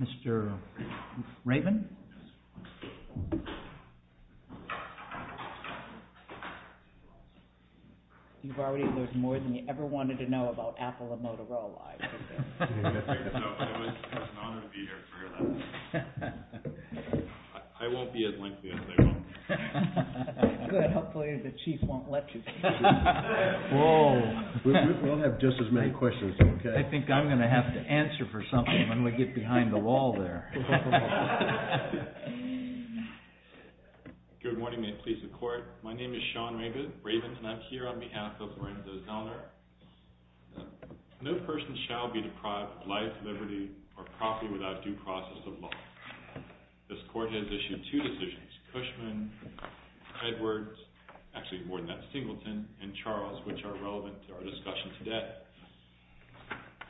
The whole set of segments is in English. Mr. Raymond, you've already learned more than you ever wanted to know about Apple and Motorola. I was honored to be here. I won't be as lengthy as they will. Hopefully the chief won't let you. We'll have just as many questions. I think I'm going to have to answer for something when we get behind the wall there. Good morning, may it please the court. My name is Sean Raven and I'm here on behalf of Lorenzo Zellner. No person shall be deprived of life, liberty or property without due process of law. This court has issued two decisions, Cushman, Edwards, actually more than that, Singleton and Charles, which are relevant to our discussion today.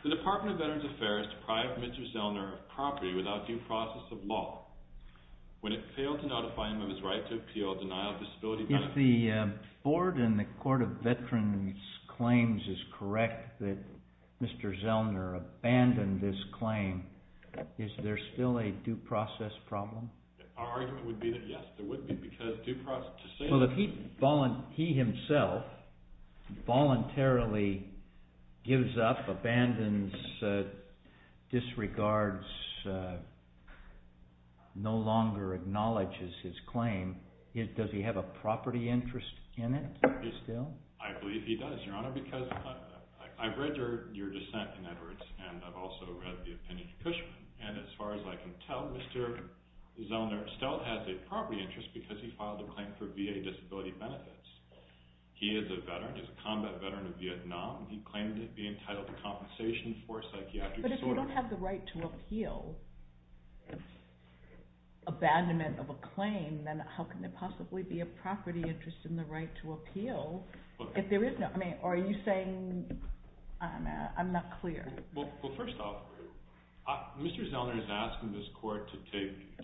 The Department of Veterans Affairs deprived Mr. Zellner of property without due process of law when it failed to notify him of his right to appeal a denial of disability benefit. If the board and the Court of Veterans Claims is correct that Mr. Zellner abandoned his claim, is there still a due process problem? Our argument would be that yes, there would be because due process... Well, if he himself voluntarily gives up, abandons, disregards, no longer acknowledges his claim, does he have a property interest in it still? I believe he does, Your Honor, because I've read your dissent in Edwards and I've also read the opinion of Cushman. And as far as I can tell, Mr. Zellner still has a property interest because he filed a claim for VA disability benefits. He is a veteran, he's a combat veteran of Vietnam and he claimed to be entitled to compensation for psychiatric disorders. But if you don't have the right to appeal, abandonment of a claim, then how can there possibly be a property interest in the right to appeal if there is none? I mean, are you saying... I'm not clear. Well, first off, Mr. Zellner is asking this Court to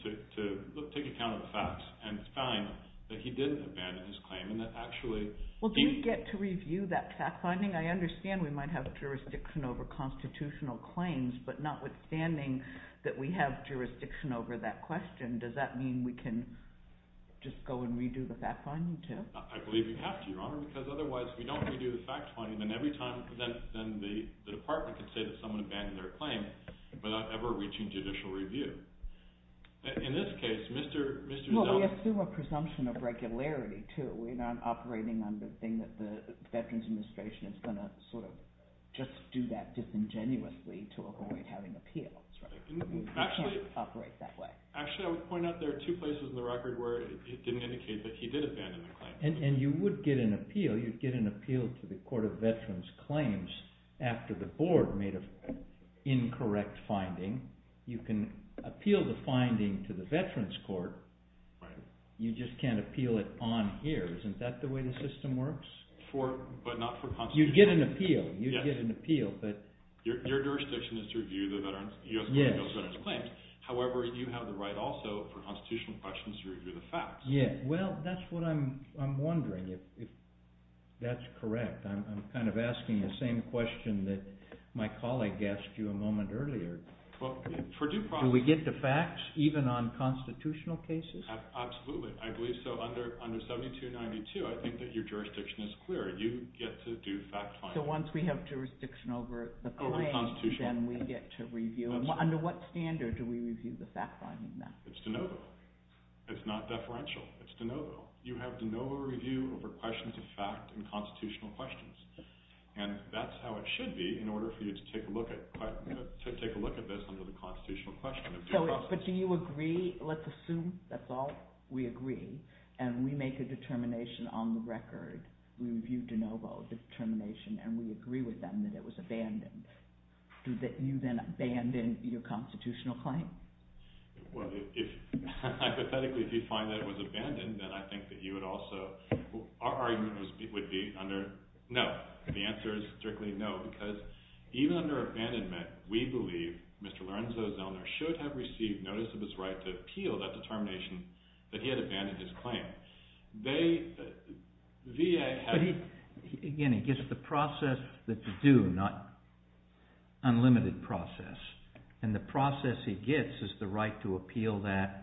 take account of the facts and find that he didn't abandon his claim and that actually... Well, do you get to review that fact-finding? I understand we might have jurisdiction over constitutional claims, but notwithstanding that we have jurisdiction over that question, does that mean we can just go and redo the fact-finding, too? I believe you have to, Your Honor, because otherwise if we don't redo the fact-finding, then the Department could say that someone abandoned their claim without ever reaching judicial review. In this case, Mr. Zellner... Well, we assume a presumption of regularity, too. We're not operating on the thing that the Veterans Administration is going to sort of just do that disingenuously to avoid having appeals, right? Actually... We can't operate that way. Actually, I would point out there are two places in the record where it didn't indicate that he did abandon the claim. And you would get an appeal. You'd get an appeal to the Court of Veterans Claims after the Board made an incorrect finding. You can appeal the finding to the Veterans Court. Right. You just can't appeal it on here. Isn't that the way the system works? For... but not for constitutional... You'd get an appeal. You'd get an appeal, but... Your jurisdiction is to review the U.S. Court of Appeals Veterans Claims. However, you have the right also for constitutional questions to review the facts. Yeah. Well, that's what I'm wondering, if that's correct. I'm kind of asking the same question that my colleague asked you a moment earlier. Well, for due process... Do we get the facts even on constitutional cases? Absolutely. I believe so. Under 7292, I think that your jurisdiction is clear. You get to do fact-finding. So once we have jurisdiction over the claim, then we get to review. Under what standard do we review the fact-finding then? It's de novo. It's not deferential. It's de novo. You have de novo review over questions of fact and constitutional questions. And that's how it should be in order for you to take a look at this under the constitutional question of due process. But do you agree? Let's assume that's all we agree, and we make a determination on the record. We review de novo determination, and we agree with them that it was abandoned. Do you then abandon your constitutional claim? Well, hypothetically, if you find that it was abandoned, then I think that you would also... Our argument would be under no. The answer is strictly no, because even under abandonment, we believe Mr. Lorenzo Zellner should have received notice of his right to appeal that determination that he had abandoned his claim. Again, he gets the process that you do, not unlimited process. And the process he gets is the right to appeal that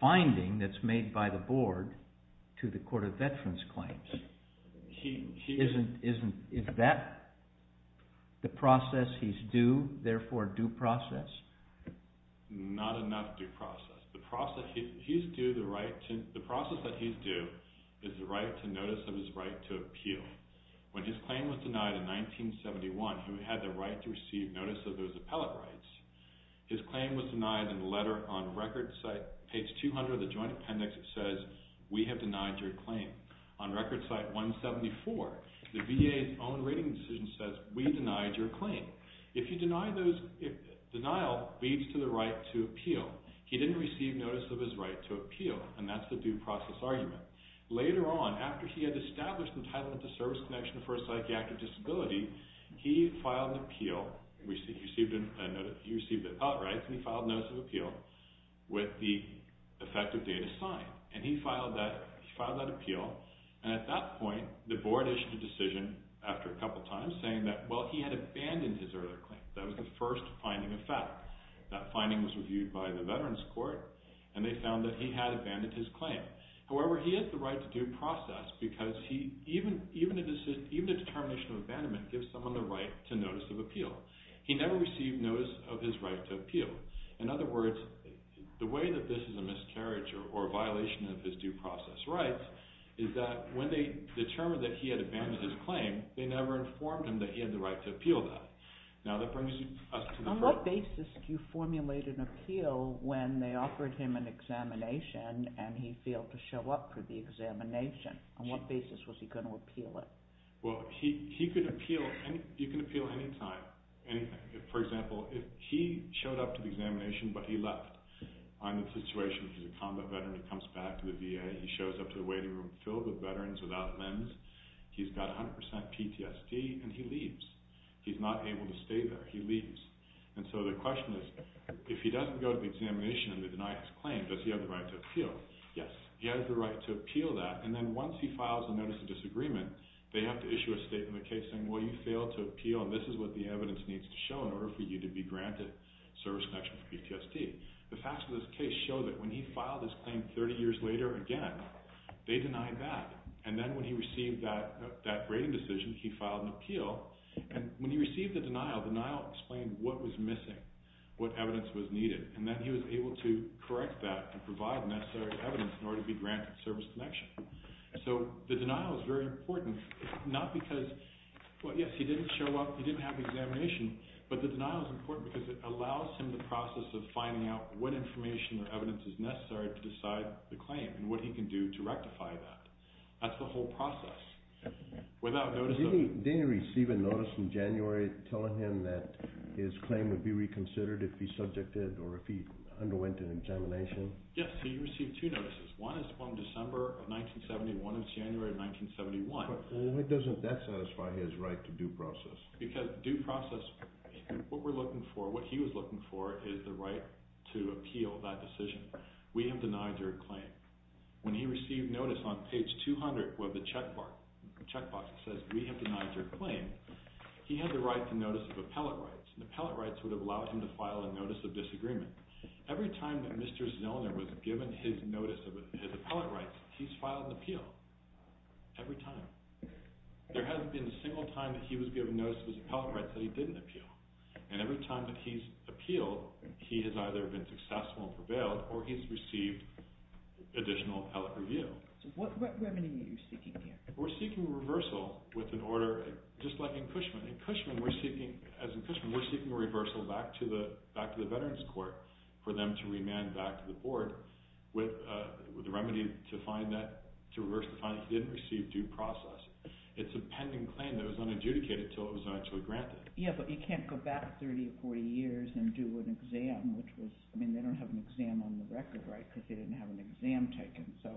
finding that's made by the board to the Court of Veterans Claims. Is that the process he's due, therefore due process? Not enough due process. The process that he's due is the right to notice of his right to appeal. When his claim was denied in 1971, he had the right to receive notice of those appellate rights. His claim was denied in a letter on record site, page 200 of the joint appendix that says, we have denied your claim. On record site 174, the VA's own rating decision says, we denied your claim. If you deny those, denial leads to the right to appeal. He didn't receive notice of his right to appeal, and that's the due process argument. Later on, after he had established entitlement to service connection for a psychiatric disability, he filed an appeal. He received appellate rights, and he filed notice of appeal with the effective date assigned. And he filed that appeal, and at that point, the board issued a decision after a couple times saying that, well, he had abandoned his earlier claim. That was the first finding of fact. That finding was reviewed by the Veterans Court, and they found that he had abandoned his claim. However, he has the right to due process because even a determination of abandonment gives someone the right to notice of appeal. He never received notice of his right to appeal. In other words, the way that this is a miscarriage or a violation of his due process rights is that when they determined that he had abandoned his claim, they never informed him that he had the right to appeal that. On what basis do you formulate an appeal when they offered him an examination, and he failed to show up for the examination? On what basis was he going to appeal it? Well, he could appeal any time, anything. For example, if he showed up for the examination, but he left, I'm in a situation where he's a combat veteran, he comes back to the VA, he shows up to the waiting room filled with veterans without limbs, he's got 100% PTSD, and he leaves. He's not able to stay there. He leaves. And so the question is, if he doesn't go to the examination and they deny his claim, does he have the right to appeal? Yes. He has the right to appeal that, and then once he files a notice of disagreement, they have to issue a statement of the case saying, well, you failed to appeal, and this is what the evidence needs to show in order for you to be granted service connection for PTSD. The facts of this case show that when he filed his claim 30 years later again, they denied that. And then when he received that rating decision, he filed an appeal, and when he received the denial, the denial explained what was missing, what evidence was needed, and then he was able to correct that and provide necessary evidence in order to be granted service connection. So the denial is very important, not because, well, yes, he didn't show up, he didn't have the examination, but the denial is important because it allows him the process of finding out what information or evidence is necessary to decide the claim and what he can do to rectify that. That's the whole process. Didn't he receive a notice in January telling him that his claim would be reconsidered if he subjected or if he underwent an examination? Yes. He received two notices. One is from December of 1971 and January of 1971. Why doesn't that satisfy his right to due process? Because due process, what we're looking for, what he was looking for, is the right to appeal that decision. We have denied your claim. When he received notice on page 200 of the checkbox that says, We have denied your claim, he had the right to notice of appellate rights, and appellate rights would have allowed him to file a notice of disagreement. Every time that Mr. Zillner was given his notice of his appellate rights, he's filed an appeal. Every time. There hasn't been a single time that he was given notice of his appellate rights that he didn't appeal. And every time that he's appealed, he has either been successful and prevailed, or he's received additional appellate review. So what remedy are you seeking here? We're seeking a reversal with an order, just like in Cushman. In Cushman, we're seeking, as in Cushman, we're seeking a reversal back to the Veterans Court for them to remand back to the board with a remedy to reverse the finding that he didn't receive due process. It's a pending claim that was unadjudicated until it was actually granted. Yeah, but he can't go back 30 or 40 years and do an exam. I mean, they don't have an exam on the record, right, because they didn't have an exam taken. So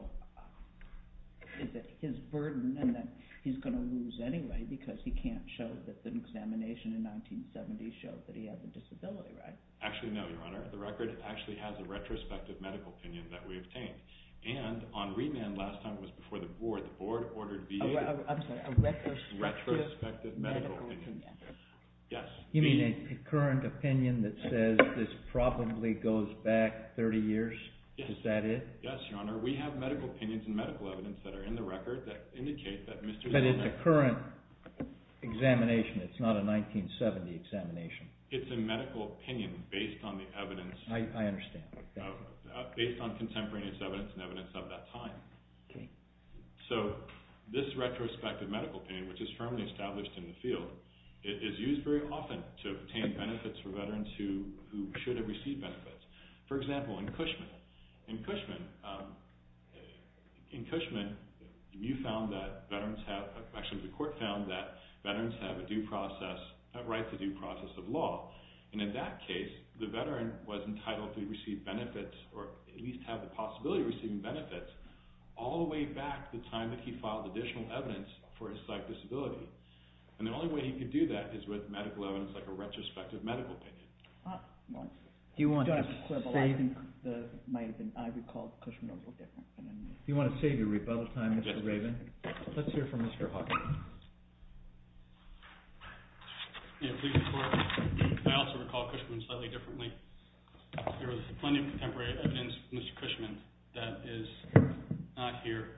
is it his burden that he's going to lose anyway because he can't show that the examination in 1970 showed that he had the disability right? Actually, no, Your Honor. The record actually has a retrospective medical opinion that we obtained. And on remand last time, it was before the board. The board ordered the— I'm sorry, a retrospective medical opinion. Yes. You mean a current opinion that says this probably goes back 30 years? Yes. Is that it? Yes, Your Honor. We have medical opinions and medical evidence that are in the record that indicate that Mr.— But it's a current examination. It's not a 1970 examination. It's a medical opinion based on the evidence— I understand. Based on contemporaneous evidence and evidence of that time. Okay. So this retrospective medical opinion, which is firmly established in the field, is used very often to obtain benefits for veterans who should have received benefits. For example, in Cushman. In Cushman, you found that veterans have—actually, the court found that veterans have a due process—a right to due process of law. And in that case, the veteran was entitled to receive benefits or at least have the possibility of receiving benefits all the way back to the time that he filed additional evidence for his psych disability. And the only way he could do that is with medical evidence like a retrospective medical opinion. Do you want to save— I recall Cushman was a little different. Do you want to save your rebuttal time, Mr. Raven? Let's hear from Mr. Hawkins. I also recall Cushman slightly differently. There was plenty of contemporary evidence from Mr. Cushman that is not here.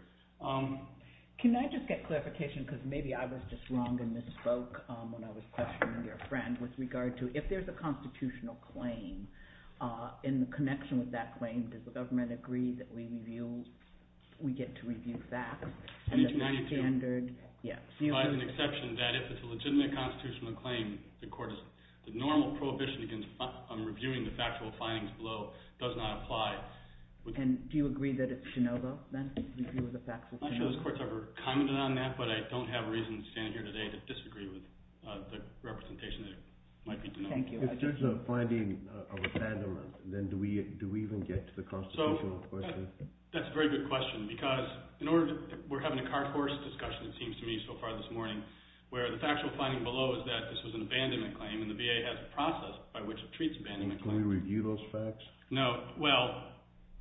Can I just get clarification, because maybe I was just wrong and misspoke when I was questioning your friend, with regard to if there's a constitutional claim, in the connection with that claim, does the government agree that we get to review facts? And the standard— In H-92, it provides an exception that if it's a legitimate constitutional claim, the court is—the normal prohibition on reviewing the factual findings below does not apply. And do you agree that it's de novo, then? Review of the factual— I'm not sure this court's ever commented on that, but I don't have reason to stand here today to disagree with the representation that it might be de novo. Thank you. If there's a finding of abandonment, then do we even get to the constitutional question? That's a very good question, because in order to—we're having a card horse discussion, it seems to me, so far this morning, where the factual finding below is that this was an abandonment claim, and the VA has a process by which it treats abandonment claims. Can we review those facts? No. Well,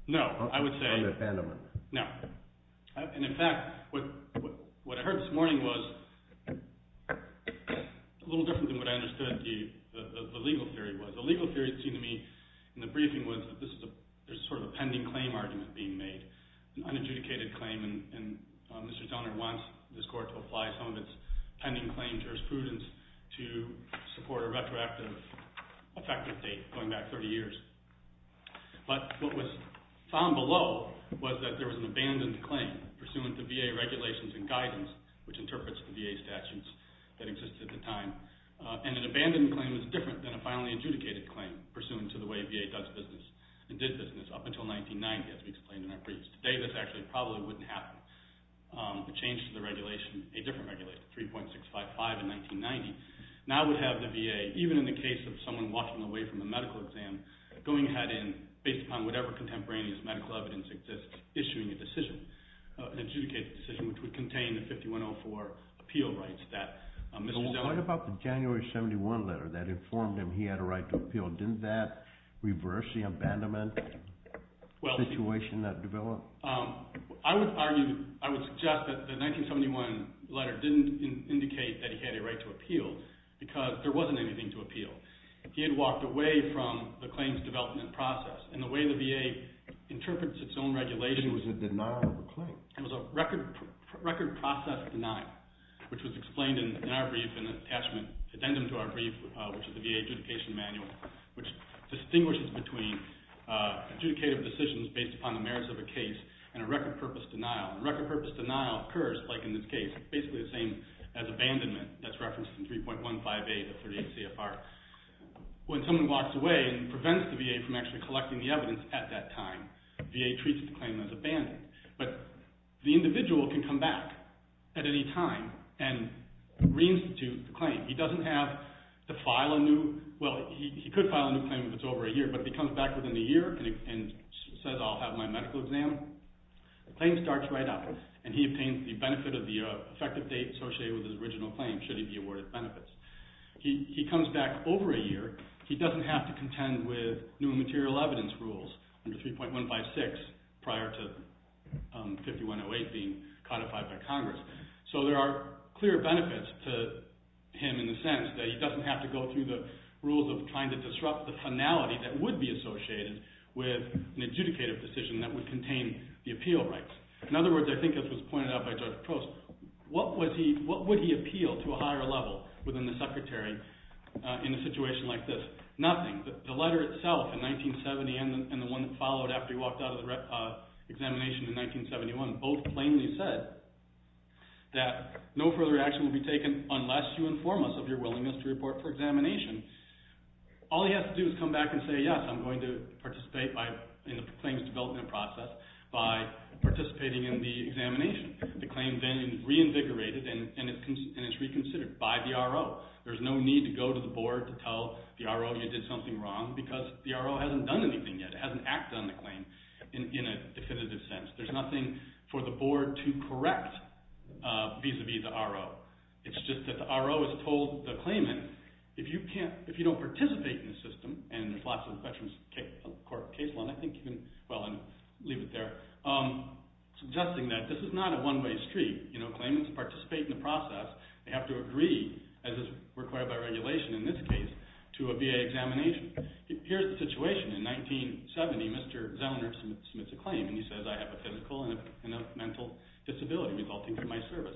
no, I would say— Are they abandonment? No. And in fact, what I heard this morning was a little different than what I understood the legal theory was. The legal theory, it seemed to me, in the briefing was that this is a—there's sort of a pending claim argument being made, an unadjudicated claim, and Mr. Donner wants this court to apply some of its pending claim jurisprudence to support a retroactive effective date, going back 30 years. But what was found below was that there was an abandoned claim pursuant to VA regulations and guidance, which interprets the VA statutes that existed at the time, and an abandoned claim is different than a finally adjudicated claim pursuant to the way VA does business and did business up until 1990, as we explained in our briefs. Today, this actually probably wouldn't happen. The change to the regulation, a different regulation, 3.655 in 1990, now would have the VA, even in the case of someone walking away from a medical exam, going ahead in, based upon whatever contemporaneous medical evidence exists, issuing a decision, an adjudicated decision, which would contain the 5104 appeal rights that Mr. Donner— What about the January 71 letter that informed him he had a right to appeal? Didn't that reverse the abandonment situation that developed? I would argue, I would suggest that the 1971 letter didn't indicate that he had a right to appeal because there wasn't anything to appeal. He had walked away from the claims development process, and the way the VA interprets its own regulation— It was a denial of a claim. It was a record process denial, which was explained in our brief in an attachment, addendum to our brief, which is the VA adjudication manual, which distinguishes between adjudicated decisions based upon the merits of a case and a record-purpose denial. A record-purpose denial occurs, like in this case, basically the same as abandonment. That's referenced in 3.158 of 38 CFR. When someone walks away and prevents the VA from actually collecting the evidence at that time, VA treats the claim as abandoned. But the individual can come back at any time and reinstitute the claim. He doesn't have to file a new—well, he could file a new claim if it's over a year, but if he comes back within a year and says, I'll have my medical exam, the claim starts right up. And he obtains the benefit of the effective date associated with his original claim should he be awarded benefits. He comes back over a year. He doesn't have to contend with new material evidence rules under 3.156 prior to 5108 being codified by Congress. So there are clear benefits to him in the sense that he doesn't have to go through the rules of trying to disrupt the finality that would be associated with an adjudicative decision that would contain the appeal rights. In other words, I think as was pointed out by Judge Post, what would he appeal to a higher level within the secretary in a situation like this? Nothing. The letter itself in 1970 and the one that followed after he walked out of the examination in 1971 both plainly said that no further action will be taken unless you inform us of your willingness to report for examination. All he has to do is come back and say, yes, I'm going to participate in the claims development process by participating in the examination. The claim then reinvigorated and it's reconsidered by the RO. There's no need to go to the board to tell the RO you did something wrong because the RO hasn't done anything yet. It hasn't acted on the claim in a definitive sense. There's nothing for the board to correct vis-a-vis the RO. It's just that the RO has told the claimant, if you don't participate in the system, and Flotsam Veterans Court case law, and I think you can leave it there, suggesting that this is not a one-way street. Claimants participate in the process. They have to agree, as is required by regulation in this case, to a VA examination. Here's the situation. In 1970, Mr. Zellner submits a claim and he says, I have a physical and a mental disability resulting from my service.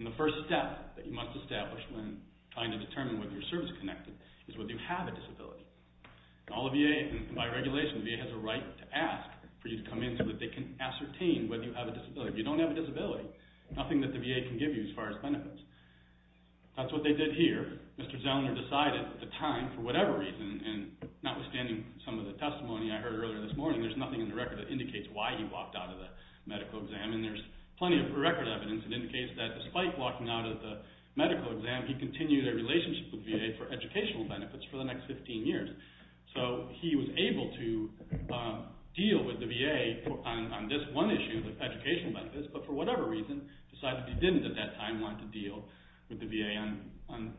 The first step that you must establish when trying to determine whether you're service-connected is whether you have a disability. By regulation, the VA has a right to ask for you to come in so that they can ascertain whether you have a disability. If you don't have a disability, nothing that the VA can give you as far as benefits. That's what they did here. Mr. Zellner decided at the time, for whatever reason, and notwithstanding some of the testimony I heard earlier this morning, there's nothing in the record that indicates why he walked out of the medical exam. There's plenty of record evidence that indicates that despite walking out of the medical exam, he continued a relationship with the VA for educational benefits for the next 15 years. He was able to deal with the VA on this one issue, the educational benefits, but for whatever reason decided he didn't at that time want to deal with the VA on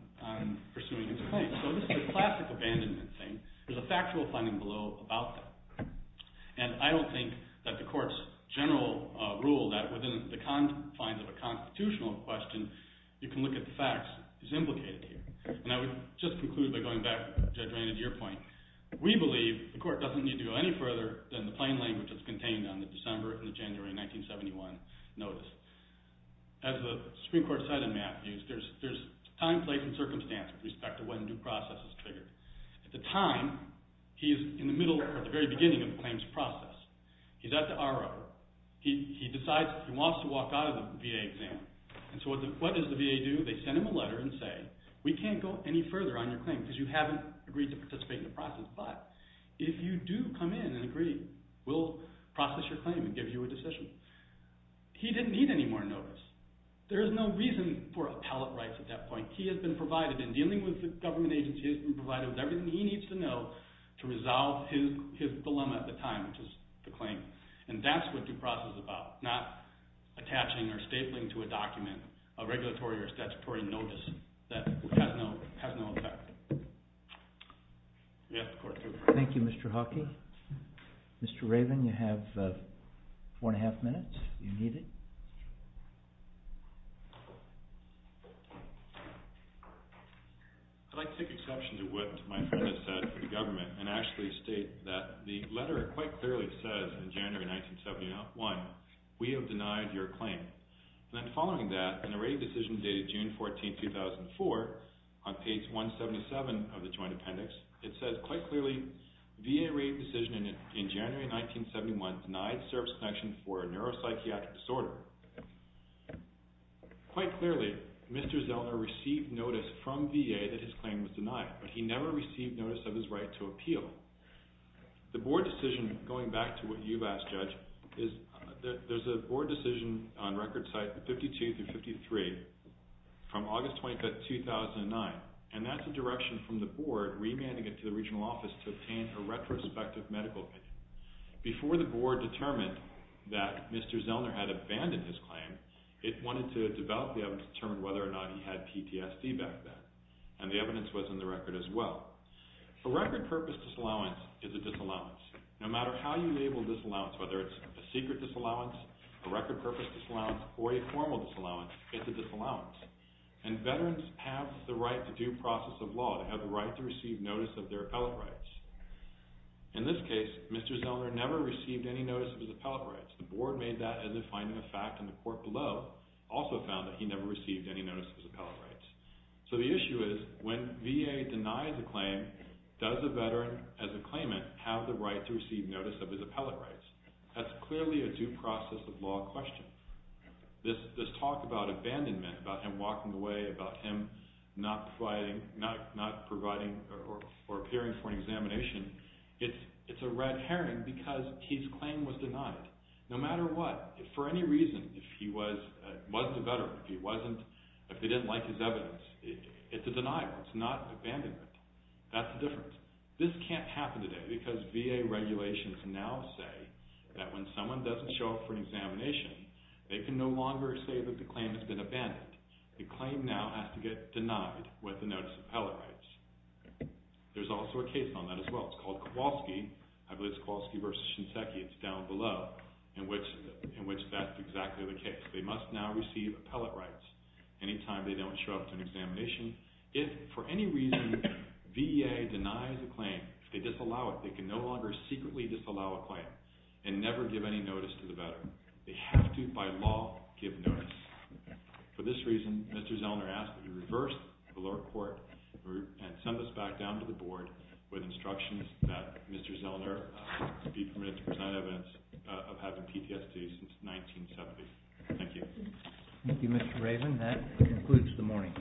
pursuing his claim. This is a classic abandonment thing. There's a factual finding below about that. I don't think that the court's general rule that within the confines of a constitutional question, you can look at the facts, is implicated here. I would just conclude by going back, Judge Rainey, to your point. We believe the court doesn't need to go any further than the plain language that's contained on the December and the January 1971 notice. As the Supreme Court said in Matthews, there's time, place, and circumstance with respect to when due process is triggered. At the time, he is in the middle or the very beginning of the claims process. He's at the RO. He decides he wants to walk out of the VA exam. So what does the VA do? They send him a letter and say, we can't go any further on your claim because you haven't agreed to participate in the process. But if you do come in and agree, we'll process your claim and give you a decision. He didn't need any more notice. There's no reason for appellate rights at that point. What he has been provided in dealing with the government agency has been provided with everything he needs to know to resolve his dilemma at the time, which is the claim. And that's what due process is about, not attaching or stapling to a document, a regulatory or statutory notice that has no effect. Thank you, Mr. Hawkey. Mr. Raven, you have four and a half minutes if you need it. I'd like to take exception to what my friend has said for the government and actually state that the letter quite clearly says in January 1971, we have denied your claim. And then following that, in a rating decision dated June 14, 2004, on page 177 of the joint appendix, it says quite clearly, VA rating decision in January 1971 denied service connection for a neuropsychiatric disorder. Quite clearly, Mr. Zellner received notice from VA that his claim was denied, but he never received notice of his right to appeal. The board decision, going back to what you've asked, Judge, is that there's a board decision on record sites 52 through 53 from August 25, 2009, and that's a direction from the board remanding it to the regional office to obtain a retrospective medical opinion. Before the board determined that Mr. Zellner had abandoned his claim, it wanted to develop the evidence to determine whether or not he had PTSD back then, and the evidence was in the record as well. A record purpose disallowance is a disallowance. No matter how you label disallowance, whether it's a secret disallowance, a record purpose disallowance, or a formal disallowance, it's a disallowance. And veterans have the right to due process of law, to have the right to receive notice of their appellate rights. In this case, Mr. Zellner never received any notice of his appellate rights. The board made that as a finding of fact, and the court below also found that he never received any notice of his appellate rights. So the issue is, when VA denies a claim, does a veteran, as a claimant, have the right to receive notice of his appellate rights? That's clearly a due process of law question. This talk about abandonment, about him walking away, about him not providing or appearing for an examination, it's a red herring because his claim was denied. No matter what, for any reason, if he wasn't a veteran, if he didn't like his evidence, it's a denial, it's not abandonment. That's the difference. This can't happen today because VA regulations now say that when someone doesn't show up for an examination, they can no longer say that the claim has been abandoned. The claim now has to get denied with the notice of appellate rights. There's also a case on that as well. It's called Kowalski, I believe it's Kowalski v. Shinseki, it's down below, in which that's exactly the case. They must now receive appellate rights anytime they don't show up for an examination. If, for any reason, VA denies a claim, if they disallow it, they can no longer secretly disallow a claim and never give any notice to the veteran. They have to, by law, give notice. For this reason, Mr. Zellner asks that we reverse the lower court and send this back down to the board with instructions that Mr. Zellner be permitted to present evidence of having PTSD since 1970. Thank you. Thank you, Mr. Raven. That concludes the morning.